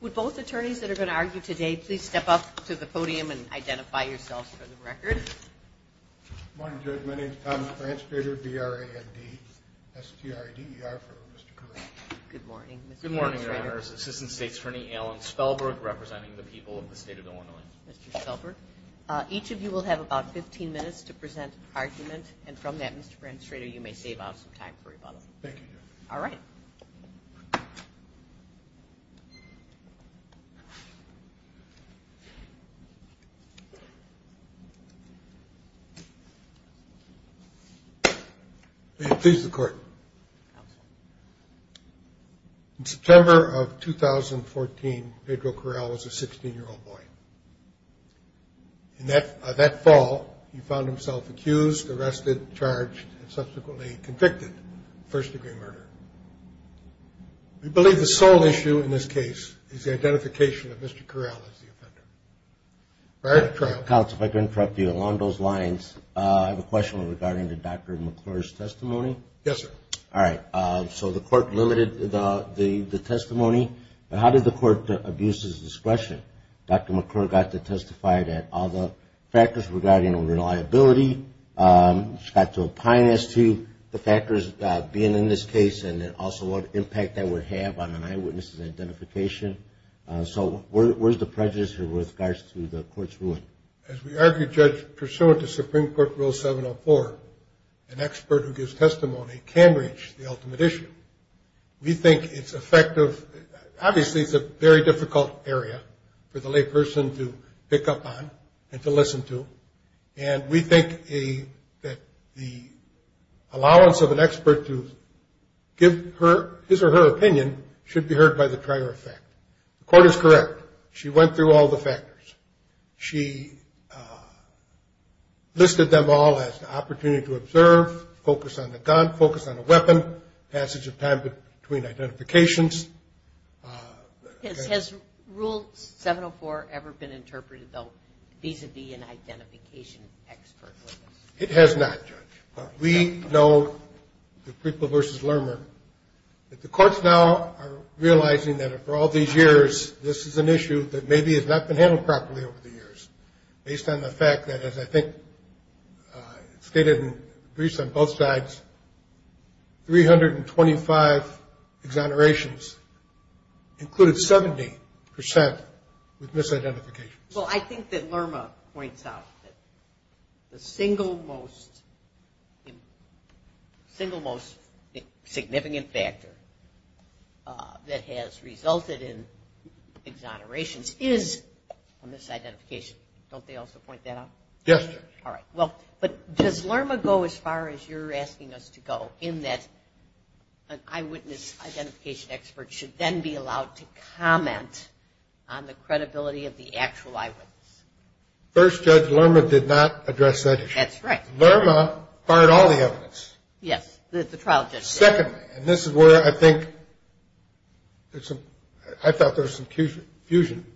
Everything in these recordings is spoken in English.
would both attorneys that are going to argue today please step up to the podium and identify yourself for the record. Good morning, my name is Thomas Branstrader, B-R-A-N-D-S-T-R-A-D-E-R for Mr. Corral. Good morning, Mr. Branstrader. Good morning, Your Honors. Assistant State's Attorney Alan Spellberg representing the people of the state of Illinois. Each of you will have about 15 minutes to present an argument, and from that, Mr. Branstrader, you may save out some time for rebuttal. Thank you, Your Honor. All right. May it please the Court. Counsel. In September of 2014, Pedro Corral was a 16-year-old boy. That fall, he found himself accused, arrested, charged, and subsequently convicted of first-degree murder. We believe the sole issue in this case is the identification of Mr. Corral as the offender. If I could interrupt you along those lines, I have a question regarding Dr. McClure's testimony. Yes, sir. All right. So the Court limited the testimony. How did the Court abuse his discretion? Dr. McClure got to testify that all the factors regarding unreliability, got to opine as to the factors being in this case and also what impact that would have on an eyewitness' identification. So where's the prejudice here with regards to the Court's ruling? As we argued, Judge, pursuant to Supreme Court Rule 704, an expert who gives testimony can reach the ultimate issue. We think it's effective. Obviously, it's a very difficult area for the layperson to pick up on and to listen to, and we think that the allowance of an expert to give his or her opinion should be heard by the trier of fact. The Court is correct. She went through all the factors. She listed them all as the opportunity to observe, focus on the gun, focus on the weapon, passage of time between identifications. Has Rule 704 ever been interpreted, though, vis-à-vis an identification expert? It has not, Judge. But we know, the people versus Lerner, that the Courts now are realizing that for all these years, this is an issue that maybe has not been handled properly over the years, based on the fact that, as I think stated in briefs on both sides, 325 exonerations included 70% with misidentifications. Well, I think that Lerma points out that the single most significant factor that has resulted in exonerations is misidentification. Don't they also point that out? Yes, sir. All right. But does Lerma go as far as you're asking us to go in that an eyewitness identification expert should then be First, Judge, Lerma did not address that issue. That's right. Lerma fired all the evidence. Yes, the trial judge did. Secondly, and this is where I think I thought there was some confusion,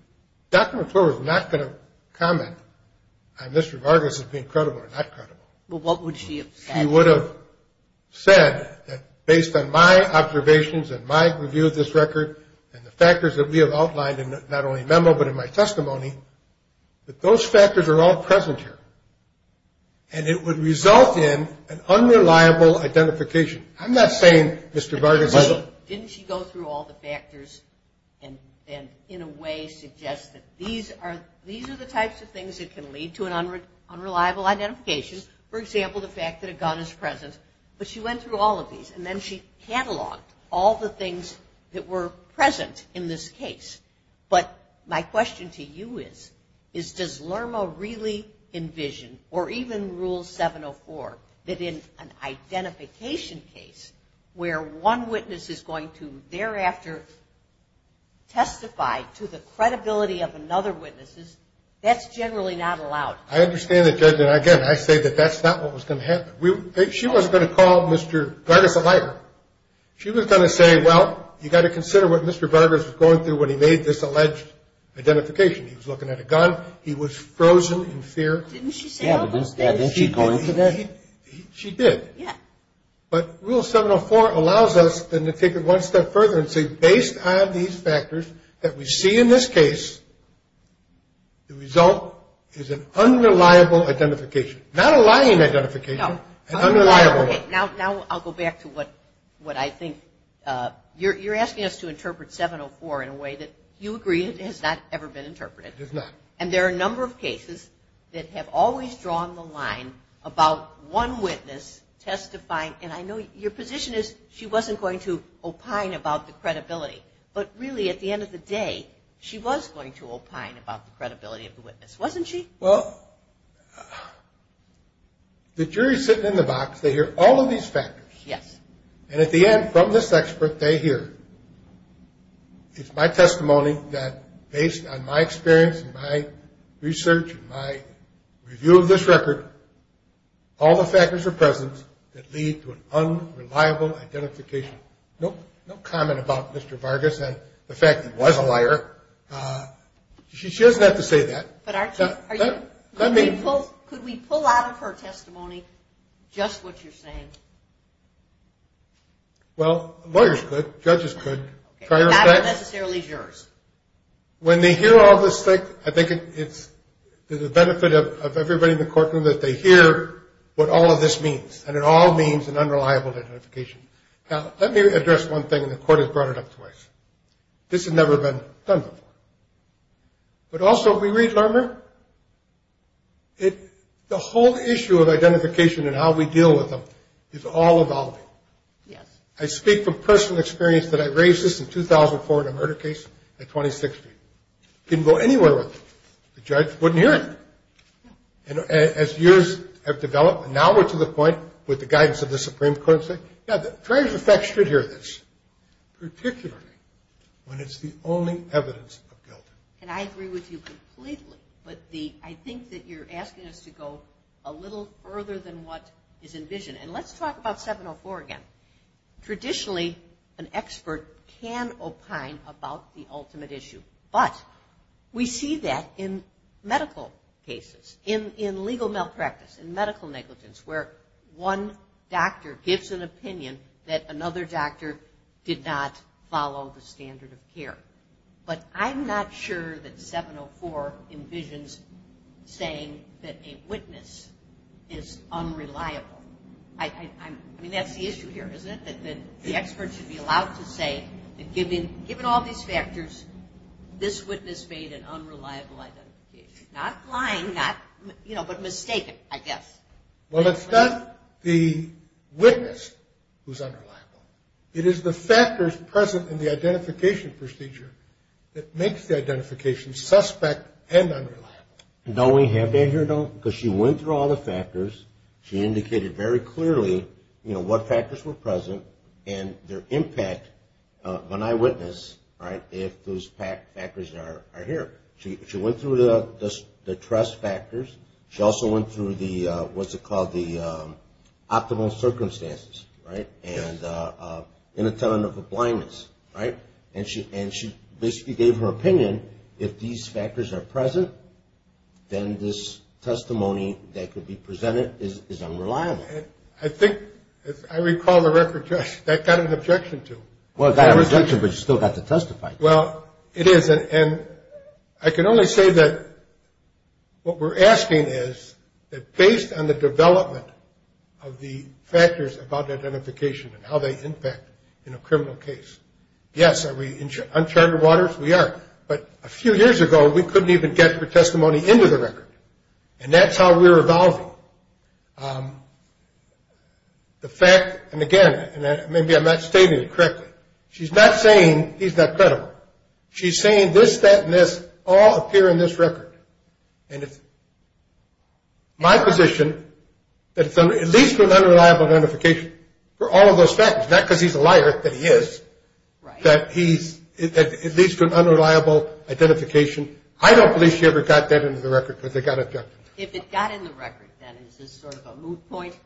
Dr. McClure was not going to comment on Mr. Vargas as being credible or not credible. Well, what would she have said? She would have said that based on my observations and my review of this record and the factors that we have outlined in not only memo but in my testimony, that those factors are all present here. And it would result in an unreliable identification. I'm not saying Mr. Vargas isn't. Didn't she go through all the factors and, in a way, suggest that these are the types of things that can lead to an unreliable identification? For example, the fact that a gun is present. But she went through all of these, and then she cataloged all the things that were present in this case. But my question to you is, does Lerma really envision, or even Rule 704, that in an identification case where one witness is going to thereafter testify to the credibility of another witness, that's generally not allowed? I understand that, Judge, and, again, I say that that's not what was going to happen. She wasn't going to call Mr. Vargas a liar. She was going to say, well, you've got to consider what Mr. Vargas was going through when he made this alleged identification. He was looking at a gun. He was frozen in fear. Didn't she say all of them? Didn't she go into that? She did. Yeah. But Rule 704 allows us then to take it one step further and say, based on these factors that we see in this case, the result is an unreliable identification. Not a lying identification. An unreliable one. Now I'll go back to what I think. You're asking us to interpret 704 in a way that you agree has not ever been interpreted. It has not. And there are a number of cases that have always drawn the line about one witness testifying. And I know your position is she wasn't going to opine about the credibility. But, really, at the end of the day, she was going to opine about the credibility of the witness, wasn't she? Well, the jury is sitting in the box. They hear all of these factors. Yes. And at the end, from this expert, they hear, it's my testimony that, based on my experience and my research and my review of this record, all the factors are present that lead to an unreliable identification. No comment about Mr. Vargas and the fact that he was a liar. She doesn't have to say that. But could we pull out of her testimony just what you're saying? Well, lawyers could. Judges could. That aren't necessarily jurors. When they hear all this, I think it's to the benefit of everybody in the courtroom that they hear what all of this means. And it all means an unreliable identification. Now, let me address one thing, and the court has brought it up twice. This has never been done before. But also, if we read Lerner, the whole issue of identification and how we deal with them is all evolving. Yes. I speak from personal experience that I raised this in 2004 in a murder case in 2016. Didn't go anywhere with it. The judge wouldn't hear it. And as years have developed, now we're to the point with the guidance of the Supreme Court, Yeah. Particularly when it's the only evidence of guilt. And I agree with you completely. But I think that you're asking us to go a little further than what is envisioned. And let's talk about 704 again. Traditionally, an expert can opine about the ultimate issue. But we see that in medical cases, in legal malpractice, in medical negligence, where one doctor gives an opinion that another doctor did not follow the standard of care. But I'm not sure that 704 envisions saying that a witness is unreliable. I mean, that's the issue here, isn't it? That the expert should be allowed to say that given all these factors, this witness made an unreliable identification. Not lying, but mistaken, I guess. Well, it's not the witness who's unreliable. It is the factors present in the identification procedure that makes the identification suspect and unreliable. Don't we have that here? No, because she went through all the factors. She indicated very clearly, you know, what factors were present and their impact of an eyewitness, right, if those factors are here. She went through the trust factors. She also went through the, what's it called, the optimal circumstances, right, and inattentive blindness, right? And she basically gave her opinion. And if these factors are present, then this testimony that could be presented is unreliable. I think, as I recall the record, that got an objection to it. Well, it got a rejection, but you still got to testify. Well, it is. And I can only say that what we're asking is that based on the development of the factors about identification and how they impact in a criminal case, yes, are we in uncharted waters? We are. But a few years ago, we couldn't even get her testimony into the record. And that's how we're evolving. The fact, and again, maybe I'm not stating it correctly, she's not saying he's not credible. She's saying this, that, and this all appear in this record. And it's my position that it's at least an unreliable identification for all of those factors, not because he's a liar, that he is, that he's at least an unreliable identification. I don't believe she ever got that into the record because it got objected to. If it got in the record, then is this sort of a moot point?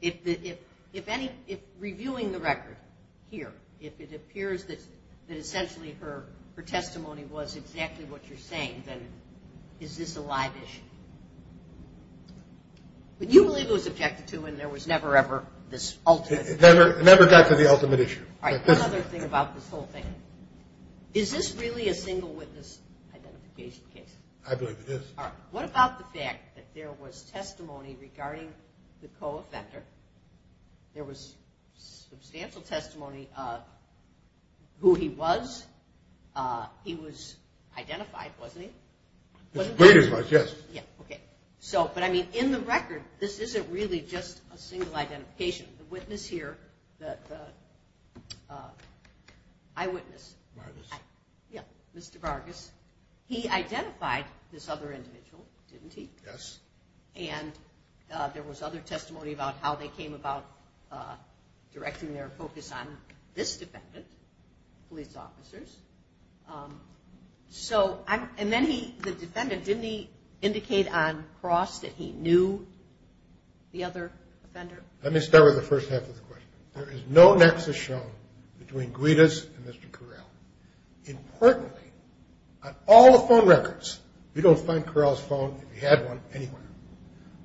If reviewing the record here, if it appears that essentially her testimony was exactly what you're saying, then is this a live issue? But you believe it was objected to and there was never, ever this ultimate issue. It never got to the ultimate issue. All right, one other thing about this whole thing. Is this really a single witness identification case? I believe it is. All right, what about the fact that there was testimony regarding the co-offender, there was substantial testimony of who he was, he was identified, wasn't he? It was, yes. Yeah, okay. So, but I mean, in the record, this isn't really just a single identification. The witness here, the eyewitness. Vargas. Yeah, Mr. Vargas, he identified this other individual, didn't he? Yes. And there was other testimony about how they came about directing their focus on this defendant, police officers. So, and then he, the defendant, didn't he indicate on cross that he knew the other offender? Let me start with the first half of the question. There is no nexus shown between Guidas and Mr. Correll. Importantly, on all the phone records, you don't find Correll's phone, if you had one, anywhere,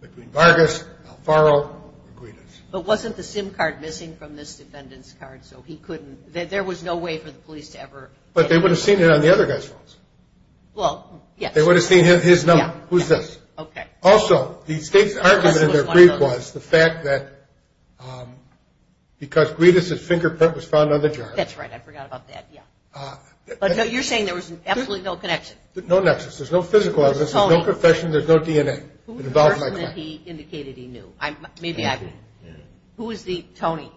between Vargas, Alfaro, or Guidas. But wasn't the SIM card missing from this defendant's card, so he couldn't, there was no way for the police to ever. But they would have seen it on the other guy's phones. Well, yes. They would have seen his number. Yeah. Who's this? Okay. Also, the state's argument in their brief was the fact that because Guidas' fingerprint was found on the jar. That's right. I forgot about that, yeah. But you're saying there was absolutely no connection. No nexus. There's no physical evidence. There's no confession. There's no DNA. Who was the person that he indicated he knew? Maybe I. Anthony. Who was the Tony?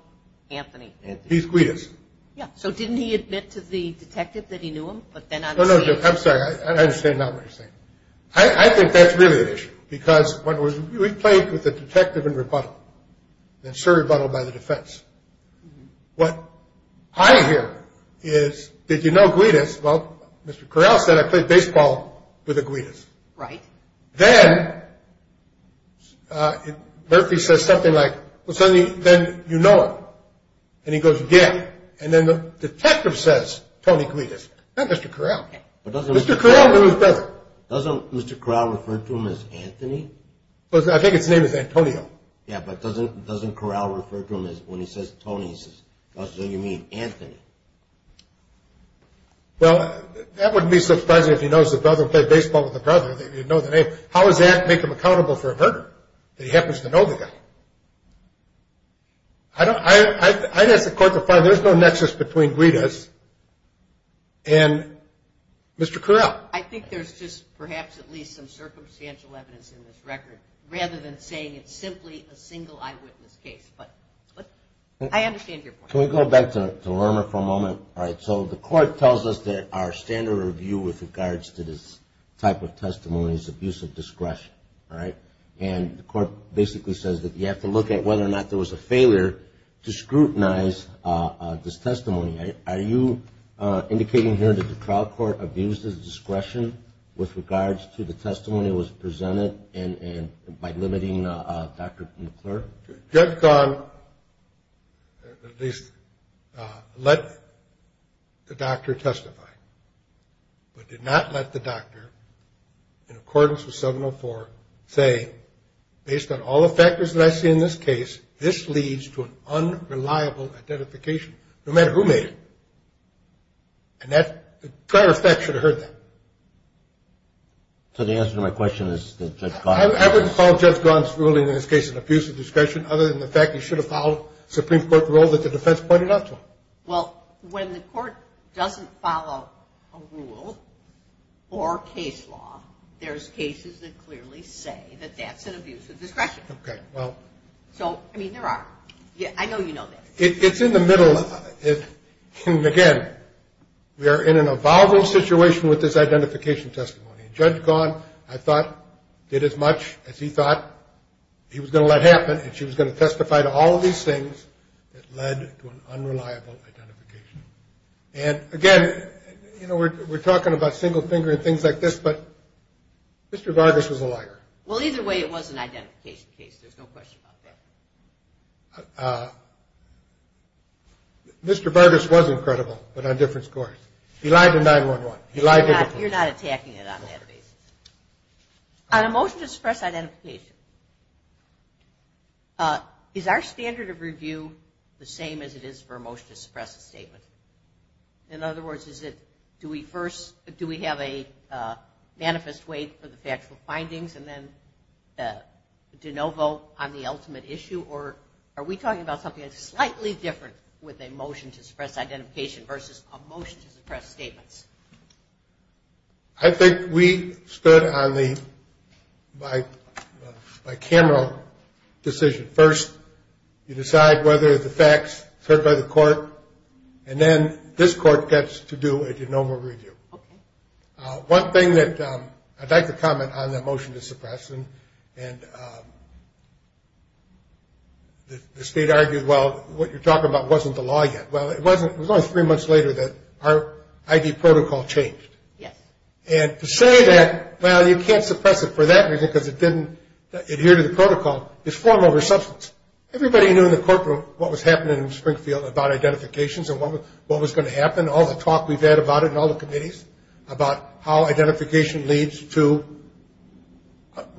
Anthony. He's Guidas. Yeah. So didn't he admit to the detective that he knew him? But then I'm assuming. No, no, no. I'm sorry. I understand now what you're saying. I think that's really an issue because when we played with the detective in rebuttal, and sir rebuttal by the defense, what I hear is, did you know Guidas? Well, Mr. Correll said, I played baseball with a Guidas. Right. Then Murphy says something like, well, then you know him. And he goes, yeah. And then the detective says, Tony Guidas. Not Mr. Correll. Mr. Correll knew his brother. Doesn't Mr. Correll refer to him as Anthony? I think his name is Antonio. Yeah, but doesn't Correll refer to him as, when he says Tony, he says, that's what you mean, Anthony. Well, that wouldn't be so surprising if he knows his brother, played baseball with his brother, that he'd know the name. How does that make him accountable for a murder, that he happens to know the guy? I'd ask the court to find, there's no nexus between Guidas and Mr. Correll. I think there's just perhaps at least some circumstantial evidence in this record, rather than saying it's simply a single eyewitness case. But I understand your point. Can we go back to Lerner for a moment? All right. So the court tells us that our standard review with regards to this type of testimony is abuse of discretion. All right. And the court basically says that you have to look at whether or not there was a failure to scrutinize this testimony. Are you indicating here that the trial court abused its discretion with regards to the testimony that was presented by limiting Dr. McClure? Judge Ghan, at least, let the doctor testify, but did not let the doctor in accordance with 704 say, based on all the factors that I see in this case, this leads to an unreliable identification, no matter who made it. And the court of facts should have heard that. So the answer to my question is that Judge Ghan. I wouldn't call Judge Ghan's ruling in this case an abuse of discretion, other than the fact he should have followed Supreme Court rule that the defense pointed out to him. Well, when the court doesn't follow a rule or case law, there's cases that clearly say that that's an abuse of discretion. Okay. Well. So, I mean, there are. I know you know this. It's in the middle of it. And, again, we are in an evolving situation with this identification testimony. And Judge Ghan, I thought, did as much as he thought he was going to let happen, and she was going to testify to all of these things that led to an unreliable identification. And, again, you know, we're talking about single-finger and things like this, but Mr. Vargas was a liar. Well, either way, it was an identification case. There's no question about that. Mr. Vargas was incredible, but on different scores. He lied to 911. You're not attacking it on that basis. On a motion to suppress identification, is our standard of review the same as it is for a motion to suppress a statement? In other words, is it do we first, do we have a manifest wait for the factual findings and then do no vote on the ultimate issue, or are we talking about something that's slightly different with a motion to suppress identification versus a motion to suppress statements? I think we stood on the bicameral decision. First, you decide whether the facts are heard by the court, and then this court gets to do a genomic review. Okay. One thing that I'd like to comment on that motion to suppress, and the State argued, well, what you're talking about wasn't the law yet. Well, it was only three months later that our ID protocol changed. Yes. And to say that, well, you can't suppress it for that reason because it didn't adhere to the protocol is form over substance. Everybody knew in the courtroom what was happening in Springfield about identifications and what was going to happen, all the talk we've had about it in all the committees, about how identification leads to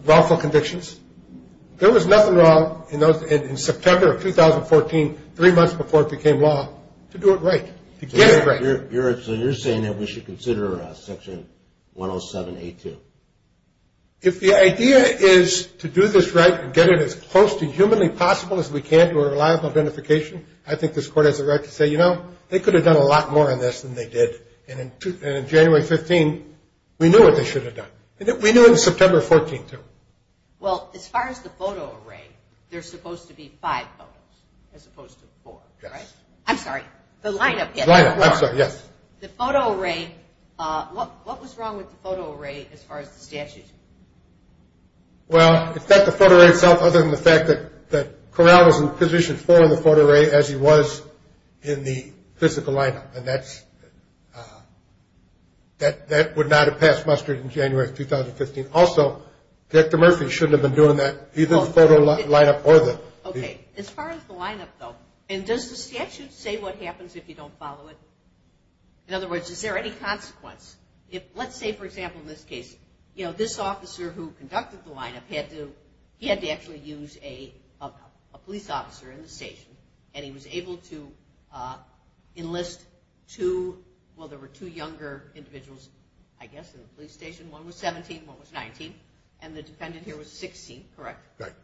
wrongful convictions. There was nothing wrong in September of 2014, three months before it became law, to do it right, to get it right. So you're saying that we should consider Section 107A2? If the idea is to do this right and get it as close to humanly possible as we can to a reliable identification, I think this court has a right to say, you know, they could have done a lot more on this than they did. And in January 15, we knew what they should have done. We knew in September 14, too. Well, as far as the photo array, there's supposed to be five photos as opposed to four, right? Yes. I'm sorry, the lineup. The lineup, I'm sorry, yes. The photo array, what was wrong with the photo array as far as the statute? Well, in fact, the photo array itself, other than the fact that Corral was in position for the photo array, as he was in the physical lineup, and that's, that would not have passed mustard in January of 2015. Also, Director Murphy shouldn't have been doing that, either the photo lineup or the. Okay. As far as the lineup, though, and does the statute say what happens if you don't follow it? In other words, is there any consequence? Let's say, for example, in this case, you know, this officer who conducted the lineup, he had to actually use a police officer in the station, and he was able to enlist two, well, there were two younger individuals, I guess, in the police station. One was 17, one was 19, and the defendant here was 16, correct? Correct.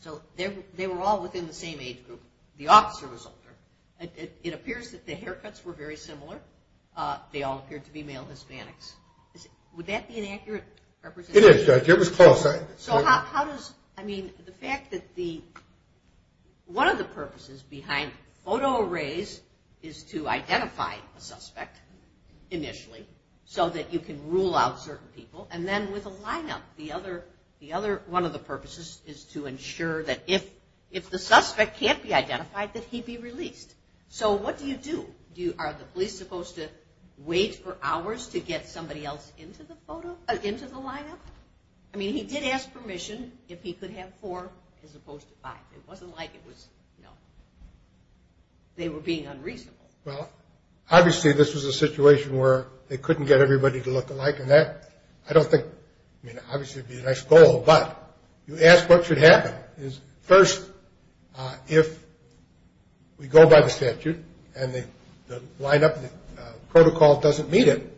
So they were all within the same age group. The officer was older. It appears that the haircuts were very similar. They all appeared to be male Hispanics. Would that be an accurate representation? It is, Judge. It was close. So how does, I mean, the fact that the, one of the purposes behind photo arrays is to identify a suspect initially so that you can rule out certain people, and then with a lineup, the other, one of the purposes is to ensure that if the suspect can't be identified, that he be released. So what do you do? Are the police supposed to wait for hours to get somebody else into the lineup? I mean, he did ask permission if he could have four as opposed to five. It wasn't like it was, you know, they were being unreasonable. Well, obviously this was a situation where they couldn't get everybody to look alike, and that, I don't think, I mean, obviously it would be a nice goal, but you ask what should happen. First, if we go by the statute and the lineup protocol doesn't meet it,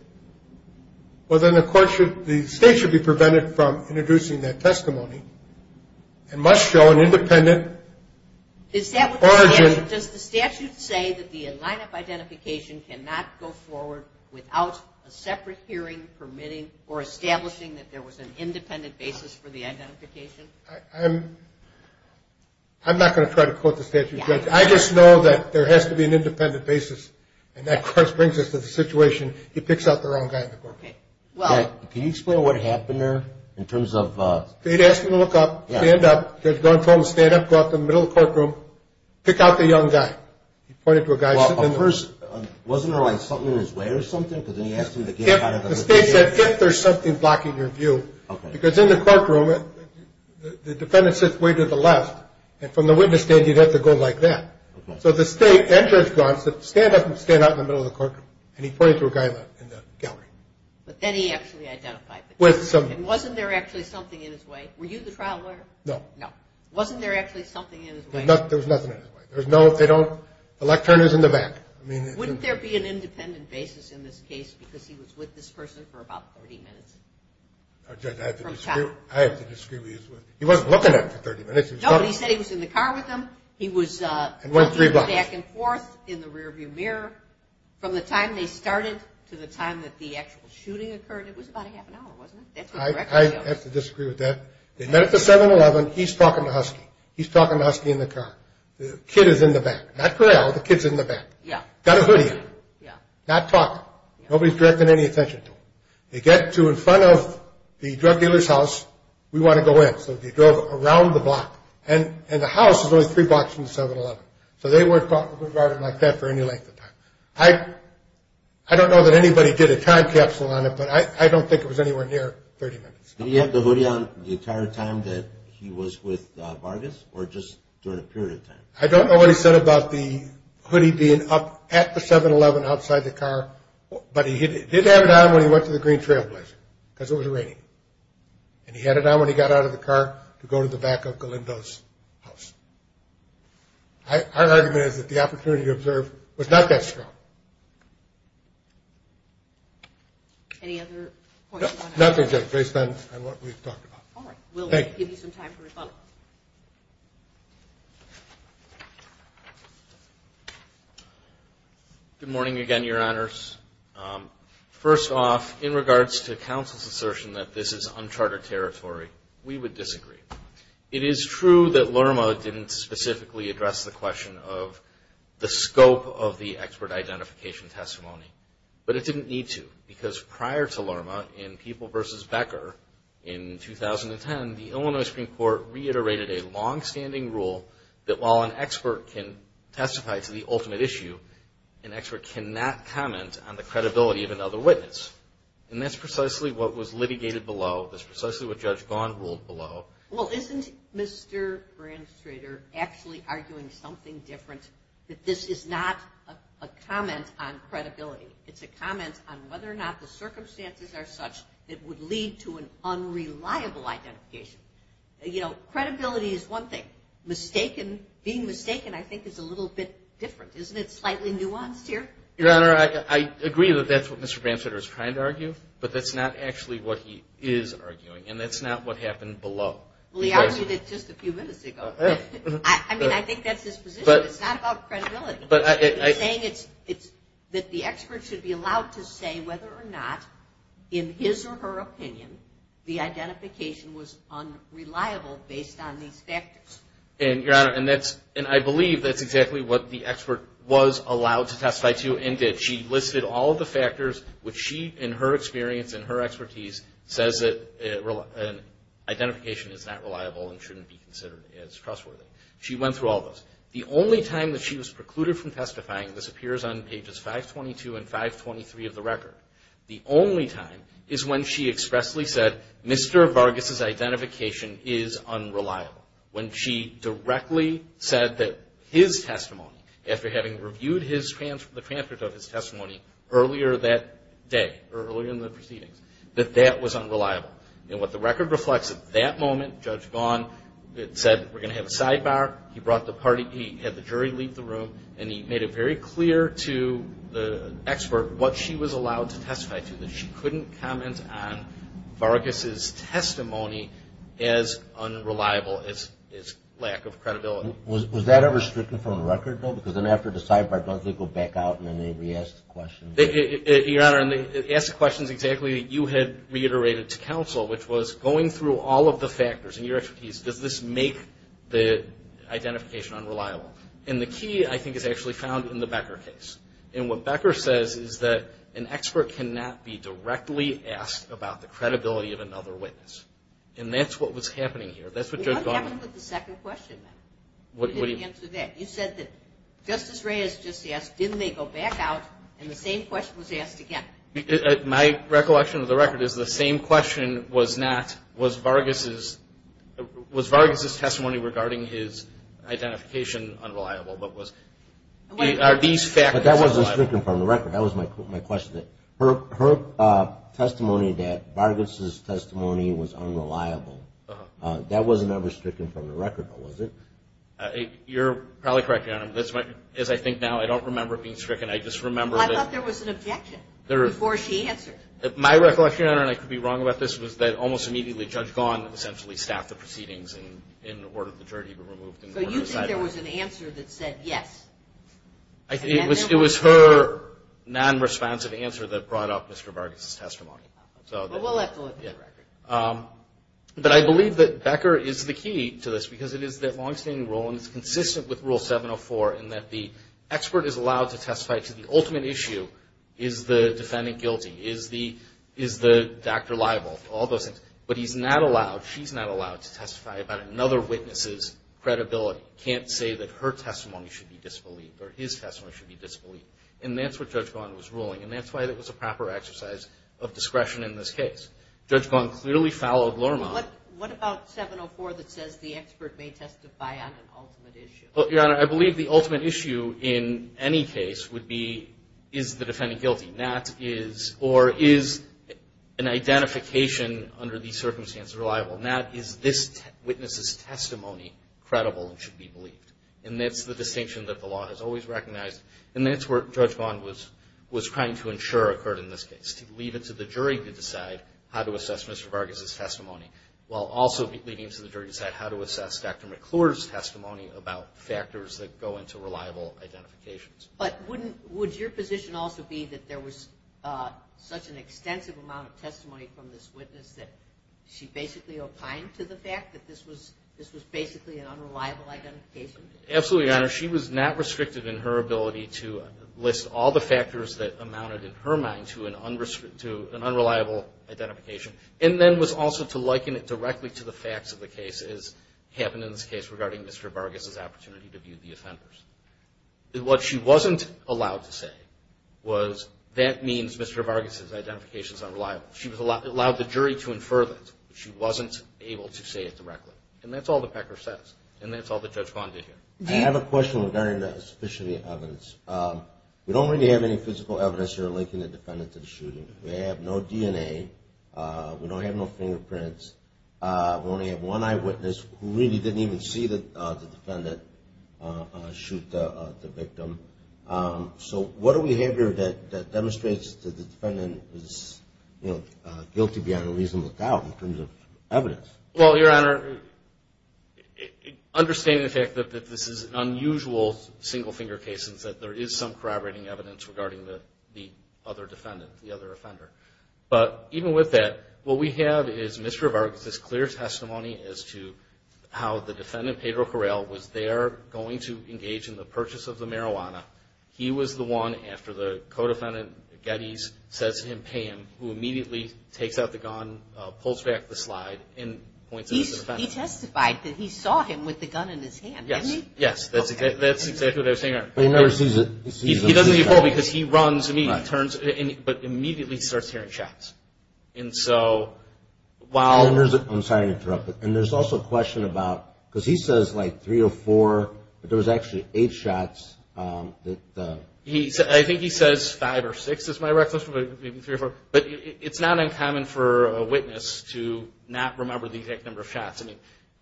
well then the court should, the state should be prevented from introducing that testimony and must show an independent origin. Does the statute say that the lineup identification cannot go forward without a separate hearing permitting or establishing that there was an independent basis for the identification? I'm not going to try to quote the statute. I just know that there has to be an independent basis, and that of course brings us to the situation he picks out the wrong guy in the courtroom. Can you explain what happened there in terms of? They'd ask him to look up, stand up. The judge told him to stand up, go out to the middle of the courtroom, pick out the young guy. He pointed to a guy sitting in the first. Wasn't there like something in his way or something? Because then he asked him to get out of the location. The state said if there's something blocking your view, because in the courtroom the defendant sits way to the left, and from the witness stand you'd have to go like that. So the state and Judge Braun said stand up and stand out in the middle of the courtroom, and he pointed to a guy in the gallery. But then he actually identified the guy. And wasn't there actually something in his way? Were you the trial lawyer? No. No. Wasn't there actually something in his way? There was nothing in his way. There's no if they don't, the lectern is in the back. Wouldn't there be an independent basis in this case because he was with this person for about 30 minutes? I have to disagree with you. He wasn't looking at him for 30 minutes. No, he said he was in the car with him. He was looking back and forth in the rear view mirror. From the time they started to the time that the actual shooting occurred, it was about a half an hour, wasn't it? I have to disagree with that. They met at the 7-Eleven. He's talking to Husky. He's talking to Husky in the car. The kid is in the back. Not Corral. The kid's in the back. Got a hoodie on. Not talking. Nobody's directing any attention to him. They get to in front of the drug dealer's house. We want to go in. So they drove around the block. And the house is only three blocks from the 7-Eleven. So they weren't caught regarding like that for any length of time. I don't know that anybody did a time capsule on it, but I don't think it was anywhere near 30 minutes. Did he have the hoodie on the entire time that he was with Vargas or just during a period of time? I don't know what he said about the hoodie being up at the 7-Eleven outside the car, but he did have it on when he went to the Green Trail Blazer because it was raining. And he had it on when he got out of the car to go to the back of Galindo's house. Our argument is that the opportunity to observe was not that strong. Any other points you want to add? Nothing, just based on what we've talked about. We'll give you some time for rebuttal. Good morning again, Your Honors. First off, in regards to counsel's assertion that this is uncharted territory, we would disagree. It is true that LRMA didn't specifically address the question of the scope of the expert identification testimony. But it didn't need to because prior to LRMA in People v. Becker in 2010, the Illinois Supreme Court reiterated a long-standing rule that while an expert can testify to the ultimate issue, an expert cannot comment on the credibility of another witness. And that's precisely what was litigated below. That's precisely what Judge Vaughn ruled below. Well, isn't Mr. Branstrader actually arguing something different? That this is not a comment on credibility. It's a comment on whether or not the circumstances are such that would lead to an unreliable identification. You know, credibility is one thing. Being mistaken, I think, is a little bit different. Isn't it slightly nuanced here? Your Honor, I agree that that's what Mr. Branstrader is trying to argue, but that's not actually what he is arguing. And that's not what happened below. Well, he argued it just a few minutes ago. I mean, I think that's his position. It's not about credibility. He's saying that the expert should be allowed to say whether or not, in his or her opinion, the identification was unreliable based on these factors. And, Your Honor, I believe that's exactly what the expert was allowed to testify to and did. She listed all of the factors which she, in her experience and her expertise, says that identification is not reliable and shouldn't be considered as trustworthy. She went through all those. The only time that she was precluded from testifying, this appears on pages 522 and 523 of the record, the only time is when she expressly said, Mr. Vargas' identification is unreliable. When she directly said that his testimony, after having reviewed the transcript of his testimony earlier that day, earlier in the proceedings, that that was unreliable. And what the record reflects at that moment, Judge Vaughn said, we're going to have a sidebar. He brought the party. He had the jury leave the room, and he made it very clear to the expert what she was allowed to testify to, that she couldn't comment on Vargas' testimony as unreliable as his lack of credibility. Was that ever stricken from the record, though? Because then after the sidebar, does it go back out and then they re-ask the question? Your Honor, it asks questions exactly that you had reiterated to counsel, which was going through all of the factors in your expertise, does this make the identification unreliable? And the key, I think, is actually found in the Becker case. And what Becker says is that an expert cannot be directly asked about the credibility of another witness. And that's what was happening here. That's what Judge Vaughn said. What happened with the second question, then? You said that Justice Reyes just asked, didn't they go back out, and the same question was asked again? My recollection of the record is the same question was not, was Vargas' testimony regarding his identification unreliable, but was, are these factors unreliable? But that wasn't stricken from the record. That was my question. Her testimony that Vargas' testimony was unreliable, that was never stricken from the record, though, was it? You're probably correct, Your Honor. As I think now, I don't remember it being stricken. I just remember that. Well, I thought there was an objection before she answered. My recollection, Your Honor, and I could be wrong about this, was that almost immediately Judge Vaughn essentially staffed the proceedings and ordered the jury to be removed. So you think there was an answer that said yes? It was her non-responsive answer that brought up Mr. Vargas' testimony. Well, we'll have to look at the record. But I believe that Becker is the key to this because it is that longstanding rule, and it's consistent with Rule 704 in that the expert is allowed to testify to the ultimate issue. Is the defendant guilty? Is the doctor liable? All those things. But he's not allowed, she's not allowed to testify about another witness' credibility. Can't say that her testimony should be disbelieved or his testimony should be disbelieved. And that's what Judge Vaughn was ruling, and that's why it was a proper exercise of discretion in this case. Judge Vaughn clearly followed Lormont. What about 704 that says the expert may testify on an ultimate issue? Well, Your Honor, I believe the ultimate issue in any case would be is the defendant guilty, or is an identification under these circumstances reliable, and that is this witness' testimony credible and should be believed. And that's the distinction that the law has always recognized, and that's what Judge Vaughn was trying to ensure occurred in this case, to leave it to the jury to decide how to assess Mr. Vargas' testimony, while also leaving it to the jury to decide how to assess Dr. McClure's testimony about factors that go into reliable identifications. But would your position also be that there was such an extensive amount of testimony from this witness that she basically opined to the fact that this was basically an unreliable identification? Absolutely, Your Honor. She was not restricted in her ability to list all the factors that amounted, in her mind, to an unreliable identification, and then was also to liken it directly to the facts of the case as happened in this case regarding Mr. Vargas' opportunity to view the offenders. What she wasn't allowed to say was that means Mr. Vargas' identification is unreliable. She was allowed the jury to infer that, but she wasn't able to say it directly. And that's all the pecker says, and that's all that Judge Vaughn did here. I have a question regarding the sufficiency of evidence. We don't really have any physical evidence here linking the defendant to the shooting. We have no DNA. We don't have no fingerprints. We only have one eyewitness who really didn't even see the defendant shoot the victim. So what behavior demonstrates that the defendant is guilty beyond a reasonable doubt in terms of evidence? Well, Your Honor, understanding the fact that this is an unusual single-finger case and that there is some corroborating evidence regarding the other defendant, the other offender. But even with that, what we have is Mr. Vargas' clear testimony as to how the defendant, Pedro Corral, was there going to engage in the purchase of the marijuana. He was the one, after the co-defendant, Geddes, says to him, who immediately takes out the gun, pulls back the slide, and points it at the defendant. He testified that he saw him with the gun in his hand, didn't he? Yes, that's exactly what I was saying, Your Honor. But he never sees it. He doesn't see it at all because he runs and he turns, but immediately starts hearing shots. And so while – I'm sorry to interrupt, but there's also a question about – because he says like three or four, but there was actually eight shots that – I think he says five or six is my recollection, maybe three or four. But it's not uncommon for a witness to not remember the exact number of shots.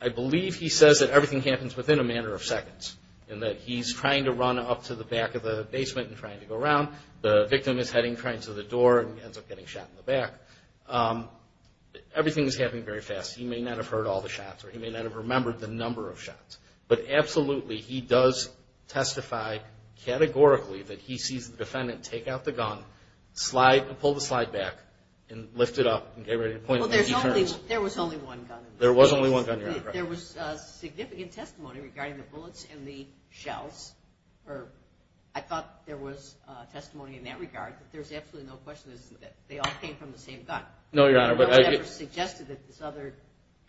I believe he says that everything happens within a matter of seconds, in that he's trying to run up to the back of the basement and trying to go around. The victim is heading to the door and ends up getting shot in the back. Everything is happening very fast. He may not have heard all the shots or he may not have remembered the number of shots. But absolutely, he does testify categorically that he sees the defendant take out the gun, slide and pull the slide back, and lift it up and get ready to point it when he turns. Well, there was only one gun. There was only one gun, Your Honor. There was significant testimony regarding the bullets and the shells. I thought there was testimony in that regard. But there's absolutely no question that they all came from the same gun. No, Your Honor. No one ever suggested that this other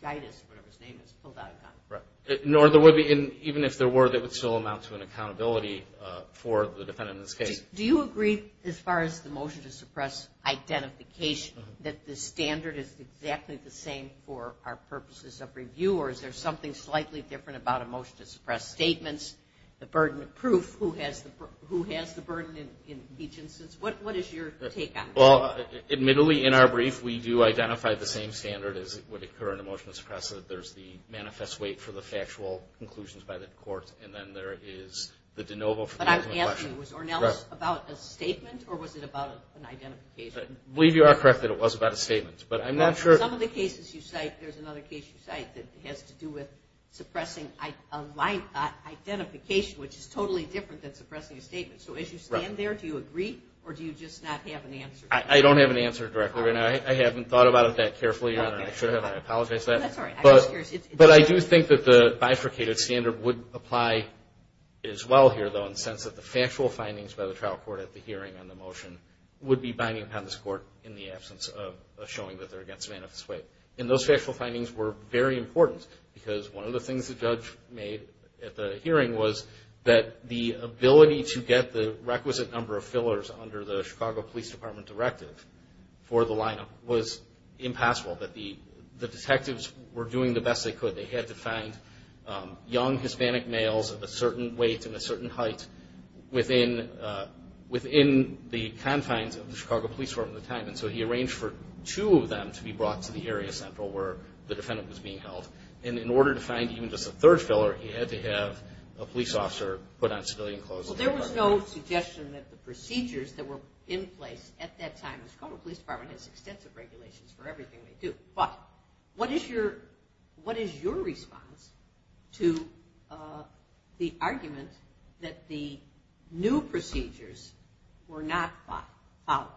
guidance, whatever his name is, pulled out a gun. Even if there were, that would still amount to an accountability for the defendant in this case. Do you agree, as far as the motion to suppress identification, that the standard is exactly the same for our purposes of review? Or is there something slightly different about a motion to suppress statements, the burden of proof, who has the burden in each instance? What is your take on that? Admittedly, in our brief, we do identify the same standard as would occur in a motion to suppress, that there's the manifest weight for the factual conclusions by the court, and then there is the de novo for the ultimate question. But I'm asking, was Ornelas about a statement, or was it about an identification? I believe you are correct that it was about a statement. Some of the cases you cite, there's another case you cite that has to do with suppressing identification, which is totally different than suppressing a statement. So as you stand there, do you agree, or do you just not have an answer? I don't have an answer directly. I haven't thought about it that carefully. I should have. I apologize for that. No, that's all right. But I do think that the bifurcated standard would apply as well here, though, in the sense that the factual findings by the trial court at the hearing on the motion would be binding upon this court in the absence of showing that they're against manifest weight. And those factual findings were very important because one of the things the judge made at the hearing was that the ability to get the requisite number of fillers under the Chicago Police Department directive for the lineup was impossible, that the detectives were doing the best they could. They had to find young Hispanic males of a certain weight and a certain height within the confines of the Chicago Police Department at the time. And so he arranged for two of them to be brought to the area central where the defendant was being held. And in order to find even just a third filler, he had to have a police officer put on civilian clothes. So there was no suggestion that the procedures that were in place at that time, the Chicago Police Department has extensive regulations for everything they do. But what is your response to the argument that the new procedures were not followed?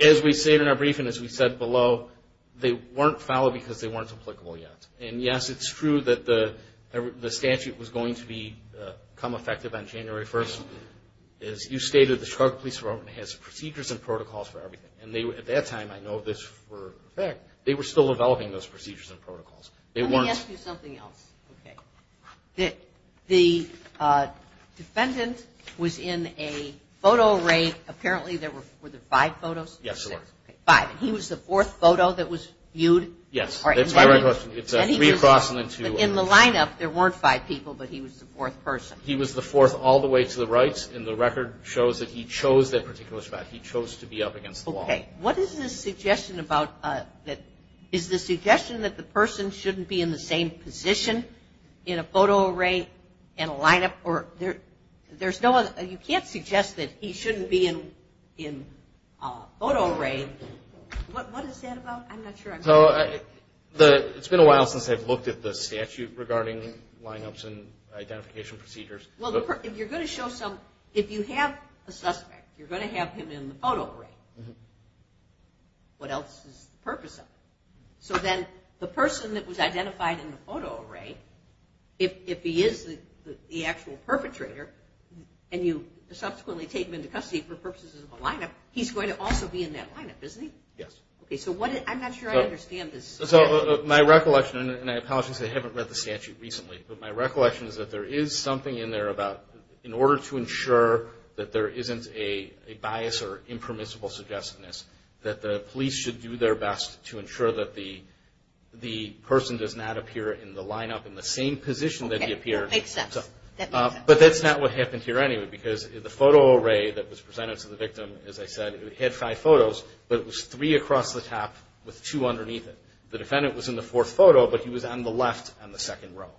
As we stated in our briefing, as we said below, they weren't followed because they weren't applicable yet. And yes, it's true that the statute was going to become effective on January 1st. As you stated, the Chicago Police Department has procedures and protocols for everything. And at that time, I know this for a fact, they were still developing those procedures and protocols. Let me ask you something else. The defendant was in a photo array. Apparently there were five photos? Yes, there were. Five. And he was the fourth photo that was viewed? Yes. That's my right question. It's three across and then two. But in the lineup, there weren't five people, but he was the fourth person. He was the fourth all the way to the right. And the record shows that he chose that particular spot. He chose to be up against the wall. Okay. What is the suggestion that the person shouldn't be in the same position in a photo array and a lineup? You can't suggest that he shouldn't be in photo array. What is that about? I'm not sure. It's been a while since I've looked at the statute regarding lineups and identification procedures. If you have a suspect, you're going to have him in the photo array. What else is the purpose of it? So then the person that was identified in the photo array, if he is the actual perpetrator and you subsequently take him into custody for purposes of a lineup, he's going to also be in that lineup, isn't he? Yes. Okay. So I'm not sure I understand this. So my recollection, and I apologize because I haven't read the statute recently, but my recollection is that there is something in there about in order to ensure that there isn't a bias or impermissible suggestiveness, that the police should do their best to ensure that the person does not appear in the lineup in the same position that he appeared. Okay. We'll take steps. But that's not what happened here anyway because the photo array that was presented to the victim, as I said, it had five photos, but it was three across the top with two underneath it. The defendant was in the fourth photo, but he was on the left in the second row.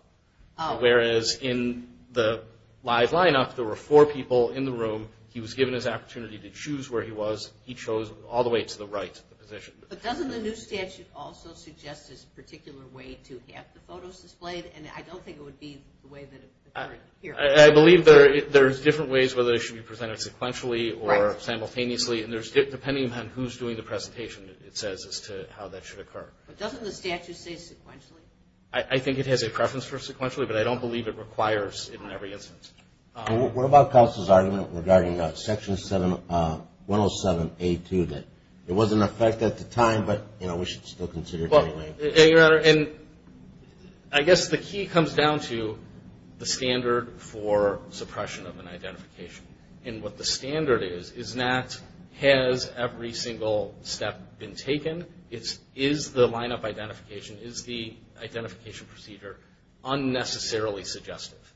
Oh. Whereas in the live lineup, there were four people in the room. He was given his opportunity to choose where he was. He chose all the way to the right position. But doesn't the new statute also suggest this particular way to have the photos displayed? And I don't think it would be the way that occurred here. I believe there's different ways whether they should be presented sequentially or simultaneously, and depending on who's doing the presentation, it says as to how that should occur. But doesn't the statute say sequentially? I think it has a preference for sequentially, but I don't believe it requires it in every instance. What about counsel's argument regarding Section 107A2 that it was in effect at the time, but, you know, we should still consider it anyway? Your Honor, and I guess the key comes down to the standard for suppression of an identification. And what the standard is is not has every single step been taken. It's is the lineup identification, is the identification procedure unnecessarily suggestive.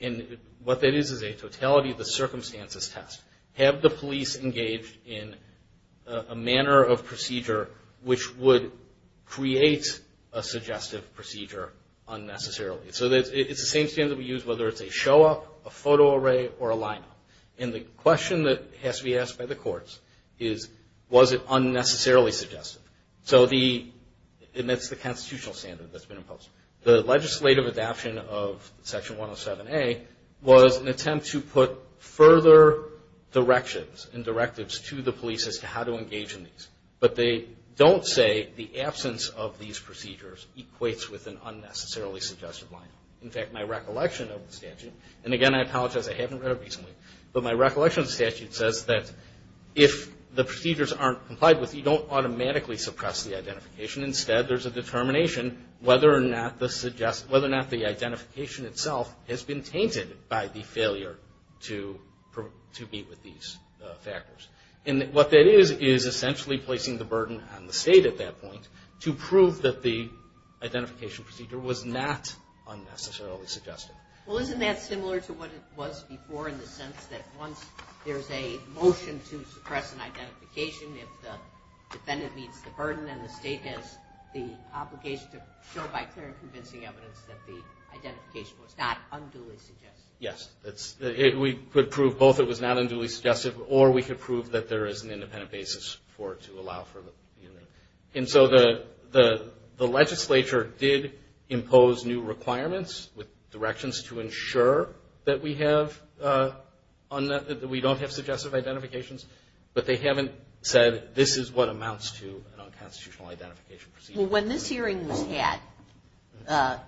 And what that is is a totality of the circumstances test. Have the police engaged in a manner of procedure which would create a suggestive procedure unnecessarily. So it's the same standard we use whether it's a show-up, a photo array, or a lineup. And the question that has to be asked by the courts is was it unnecessarily suggestive? So the – and that's the constitutional standard that's been imposed. The legislative adaption of Section 107A was an attempt to put further directions and directives to the police as to how to engage in these. But they don't say the absence of these procedures equates with an unnecessarily suggestive lineup. In fact, my recollection of the statute – and, again, I apologize, I haven't read it recently – but my recollection of the statute says that if the procedures aren't complied with, you don't automatically suppress the identification. Instead, there's a determination whether or not the identification itself has been tainted by the failure to meet with these factors. And what that is is essentially placing the burden on the state at that point to prove that the identification procedure was not unnecessarily suggestive. Well, isn't that similar to what it was before in the sense that once there's a motion to suppress an identification, if the defendant meets the burden and the state has the obligation to show by clear and convincing evidence that the identification was not unduly suggestive? Yes. We could prove both it was not unduly suggestive or we could prove that there is an independent basis for it to allow for the unit. And so the legislature did impose new requirements with directions to ensure that we have – that we don't have suggestive identifications, but they haven't said this is what amounts to an unconstitutional identification procedure. Well, when this hearing was had,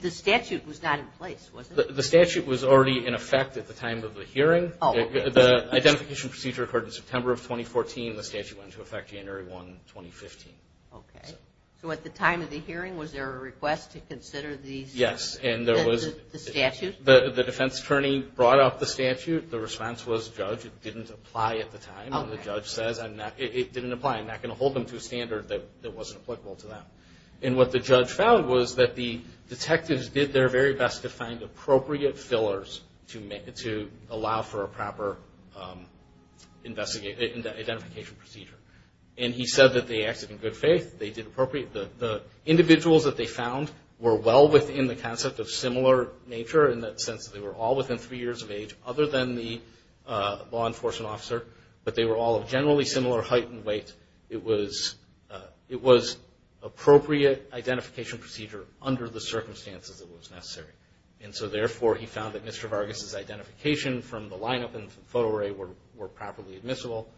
the statute was not in place, was it? The statute was already in effect at the time of the hearing. The identification procedure occurred in September of 2014. The statute went into effect January 1, 2015. Okay. So at the time of the hearing, was there a request to consider these – Yes, and there was – The statute? The defense attorney brought up the statute. The response was, Judge, it didn't apply at the time. And the judge says, it didn't apply. I'm not going to hold them to a standard that wasn't applicable to them. And what the judge found was that the detectives did their very best to find appropriate fillers to allow for a proper identification procedure. And he said that they acted in good faith. They did appropriate – the individuals that they found were well within the concept of similar nature in the sense that they were all within three years of age other than the law enforcement officer, but they were all of generally similar height and weight. It was appropriate identification procedure under the circumstances it was necessary. And so, therefore, he found that Mr. Vargas' identification from the lineup and photo array were properly admissible.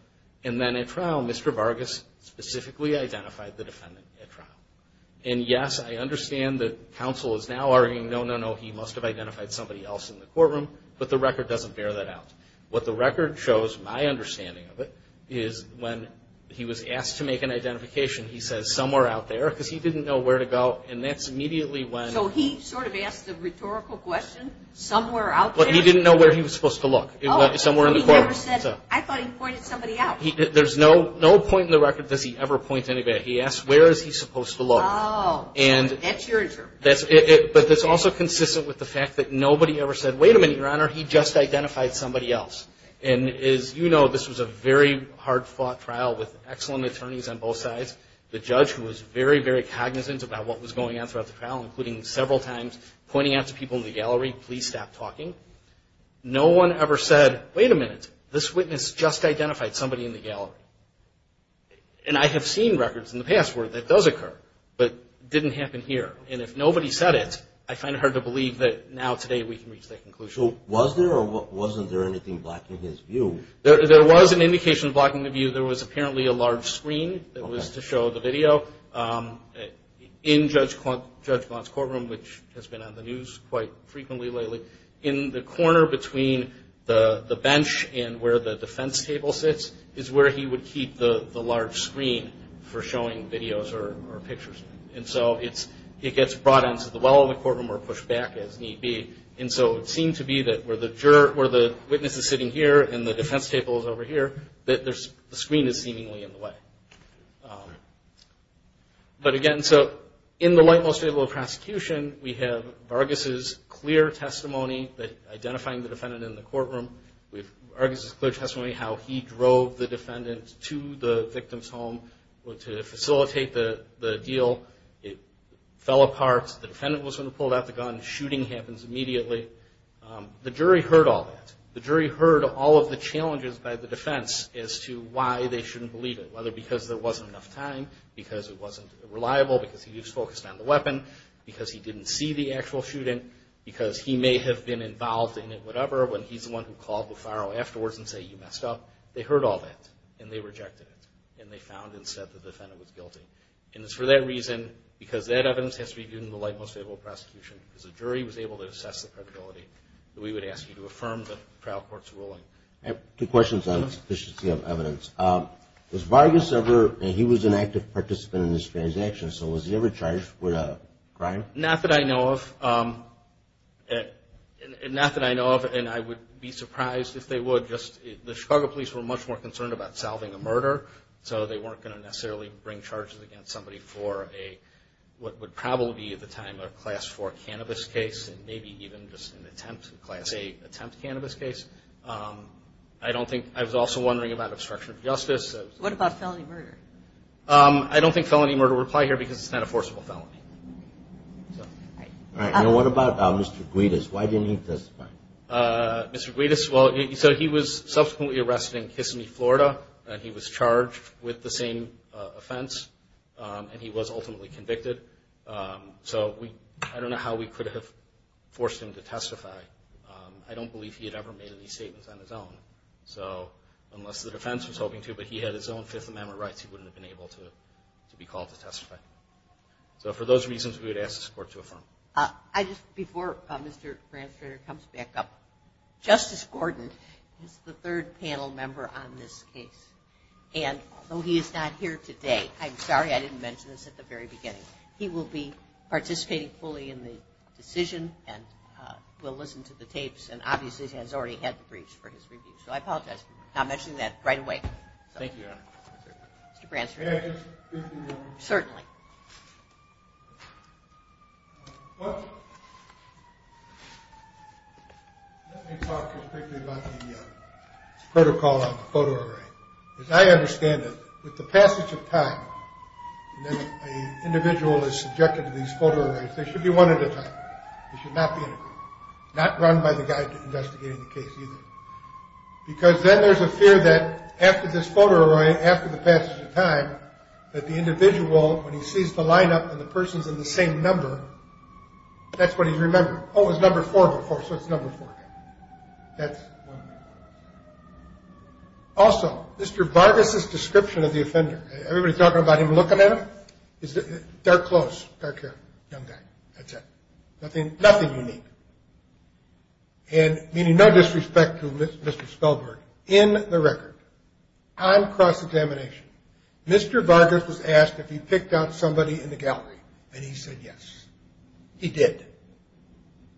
And then at trial, Mr. Vargas specifically identified the defendant at trial. And, yes, I understand that counsel is now arguing, no, no, no, he must have identified somebody else in the courtroom. But the record doesn't bear that out. What the record shows, my understanding of it, is when he was asked to make an identification, he says, somewhere out there, because he didn't know where to go. And that's immediately when – So he sort of asked a rhetorical question, somewhere out there? But he didn't know where he was supposed to look. It went somewhere in the courtroom. I thought he pointed somebody out. There's no point in the record that he ever points anybody out. He asks, where is he supposed to look? Oh, that's your interpretation. But that's also consistent with the fact that nobody ever said, wait a minute, Your Honor, he just identified somebody else. And, as you know, this was a very hard-fought trial with excellent attorneys on both sides. The judge was very, very cognizant about what was going on throughout the trial, including several times pointing out to people in the gallery, please stop talking. No one ever said, wait a minute, this witness just identified somebody in the gallery. And I have seen records in the past where that does occur, but didn't happen here. And if nobody said it, I find it hard to believe that now, today, we can reach that conclusion. So was there or wasn't there anything blocking his view? There was an indication blocking the view. There was apparently a large screen that was to show the video. In Judge Blount's courtroom, which has been on the news quite frequently lately, in the corner between the bench and where the defense table sits is where he would keep the large screen for showing videos or pictures. And so it gets brought into the well of the courtroom or pushed back as need be. And so it seemed to be that where the witness is sitting here and the defense table is over here, that the screen is seemingly in the way. But, again, so in the light most fable of prosecution, we have Vargas' clear testimony, identifying the defendant in the courtroom. Vargas' clear testimony, how he drove the defendant to the victim's home to facilitate the deal, it fell apart, the defendant was the one who pulled out the gun, shooting happens immediately. The jury heard all that. The jury heard all of the challenges by the defense as to why they shouldn't believe it, whether because there wasn't enough time, because it wasn't reliable, because he was focused on the weapon, because he didn't see the actual shooting, because he may have been involved in it, whatever, when he's the one who called Buffaro afterwards and said, you messed up. They heard all that, and they rejected it, and they found instead the defendant was guilty. And it's for that reason, because that evidence has to be given in the light most fable of prosecution, because the jury was able to assess the credibility. We would ask you to affirm the trial court's ruling. Two questions on sufficiency of evidence. Was Vargas ever, he was an active participant in this transaction, so was he ever charged with a crime? Not that I know of. Not that I know of, and I would be surprised if they would. The Chicago police were much more concerned about solving a murder, so they weren't going to necessarily bring charges against somebody for a, what would probably be at the time a Class IV cannabis case, and maybe even just an attempt, a Class VIII attempt cannabis case. I don't think, I was also wondering about obstruction of justice. What about felony murder? I don't think felony murder would apply here, because it's not a forcible felony. All right, and what about Mr. Guidas? Why didn't he testify? Mr. Guidas, well, so he was subsequently arrested in Kissimmee, Florida, and he was charged with the same offense, and he was ultimately convicted. So I don't know how we could have forced him to testify. I don't believe he had ever made any statements on his own. So unless the defense was hoping to, but he had his own Fifth Amendment rights, he wouldn't have been able to be called to testify. So for those reasons, we would ask this court to affirm. Before Mr. Branstrader comes back up, Justice Gordon is the third panel member on this case. And though he is not here today, I'm sorry I didn't mention this at the very beginning, he will be participating fully in the decision and will listen to the tapes, and obviously has already had the briefs for his review. So I apologize for not mentioning that right away. Thank you, Your Honor. Mr. Branstrader. Certainly. Let me talk just briefly about the protocol on the photo array. As I understand it, with the passage of time, when an individual is subjected to these photo arrays, they should be one at a time. They should not be in a group. Not run by the guy investigating the case either. Because then there's a fear that after this photo array, after the passage of time, that the individual, when he sees the lineup and the person's in the same number, that's what he remembers. Oh, it was number four before, so it's number four. That's one. Also, Mr. Vargas' description of the offender, everybody's talking about him looking at him, dark clothes, dark hair, young guy. That's it. Nothing unique. And meaning no disrespect to Mr. Spellberg, in the record, on cross-examination, Mr. Vargas was asked if he picked out somebody in the gallery, and he said yes. He did.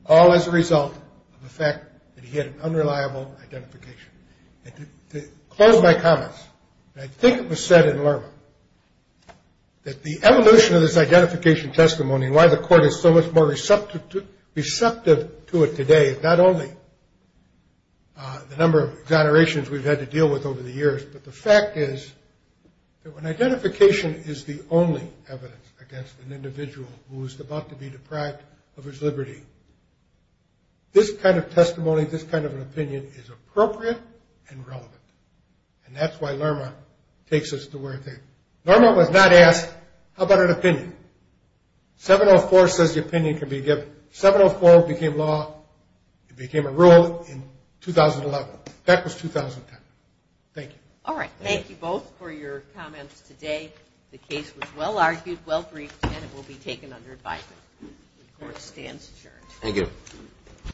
All as a result of the fact that he had an unreliable identification. To close my comments, I think it was said in Lerman that the evolution of this identification testimony and why the court is so much more receptive to it today, not only the number of exonerations we've had to deal with over the years, but the fact is that when identification is the only evidence against an individual who is about to be deprived of his liberty, this kind of testimony, this kind of an opinion is appropriate and relevant. And that's why Lerma takes us to where it's at. 704 says the opinion can be given. 704 became law. It became a rule in 2011. That was 2010. Thank you. All right. Thank you both for your comments today. The case was well-argued, well-briefed, and it will be taken under advisement. The court stands adjourned. Thank you.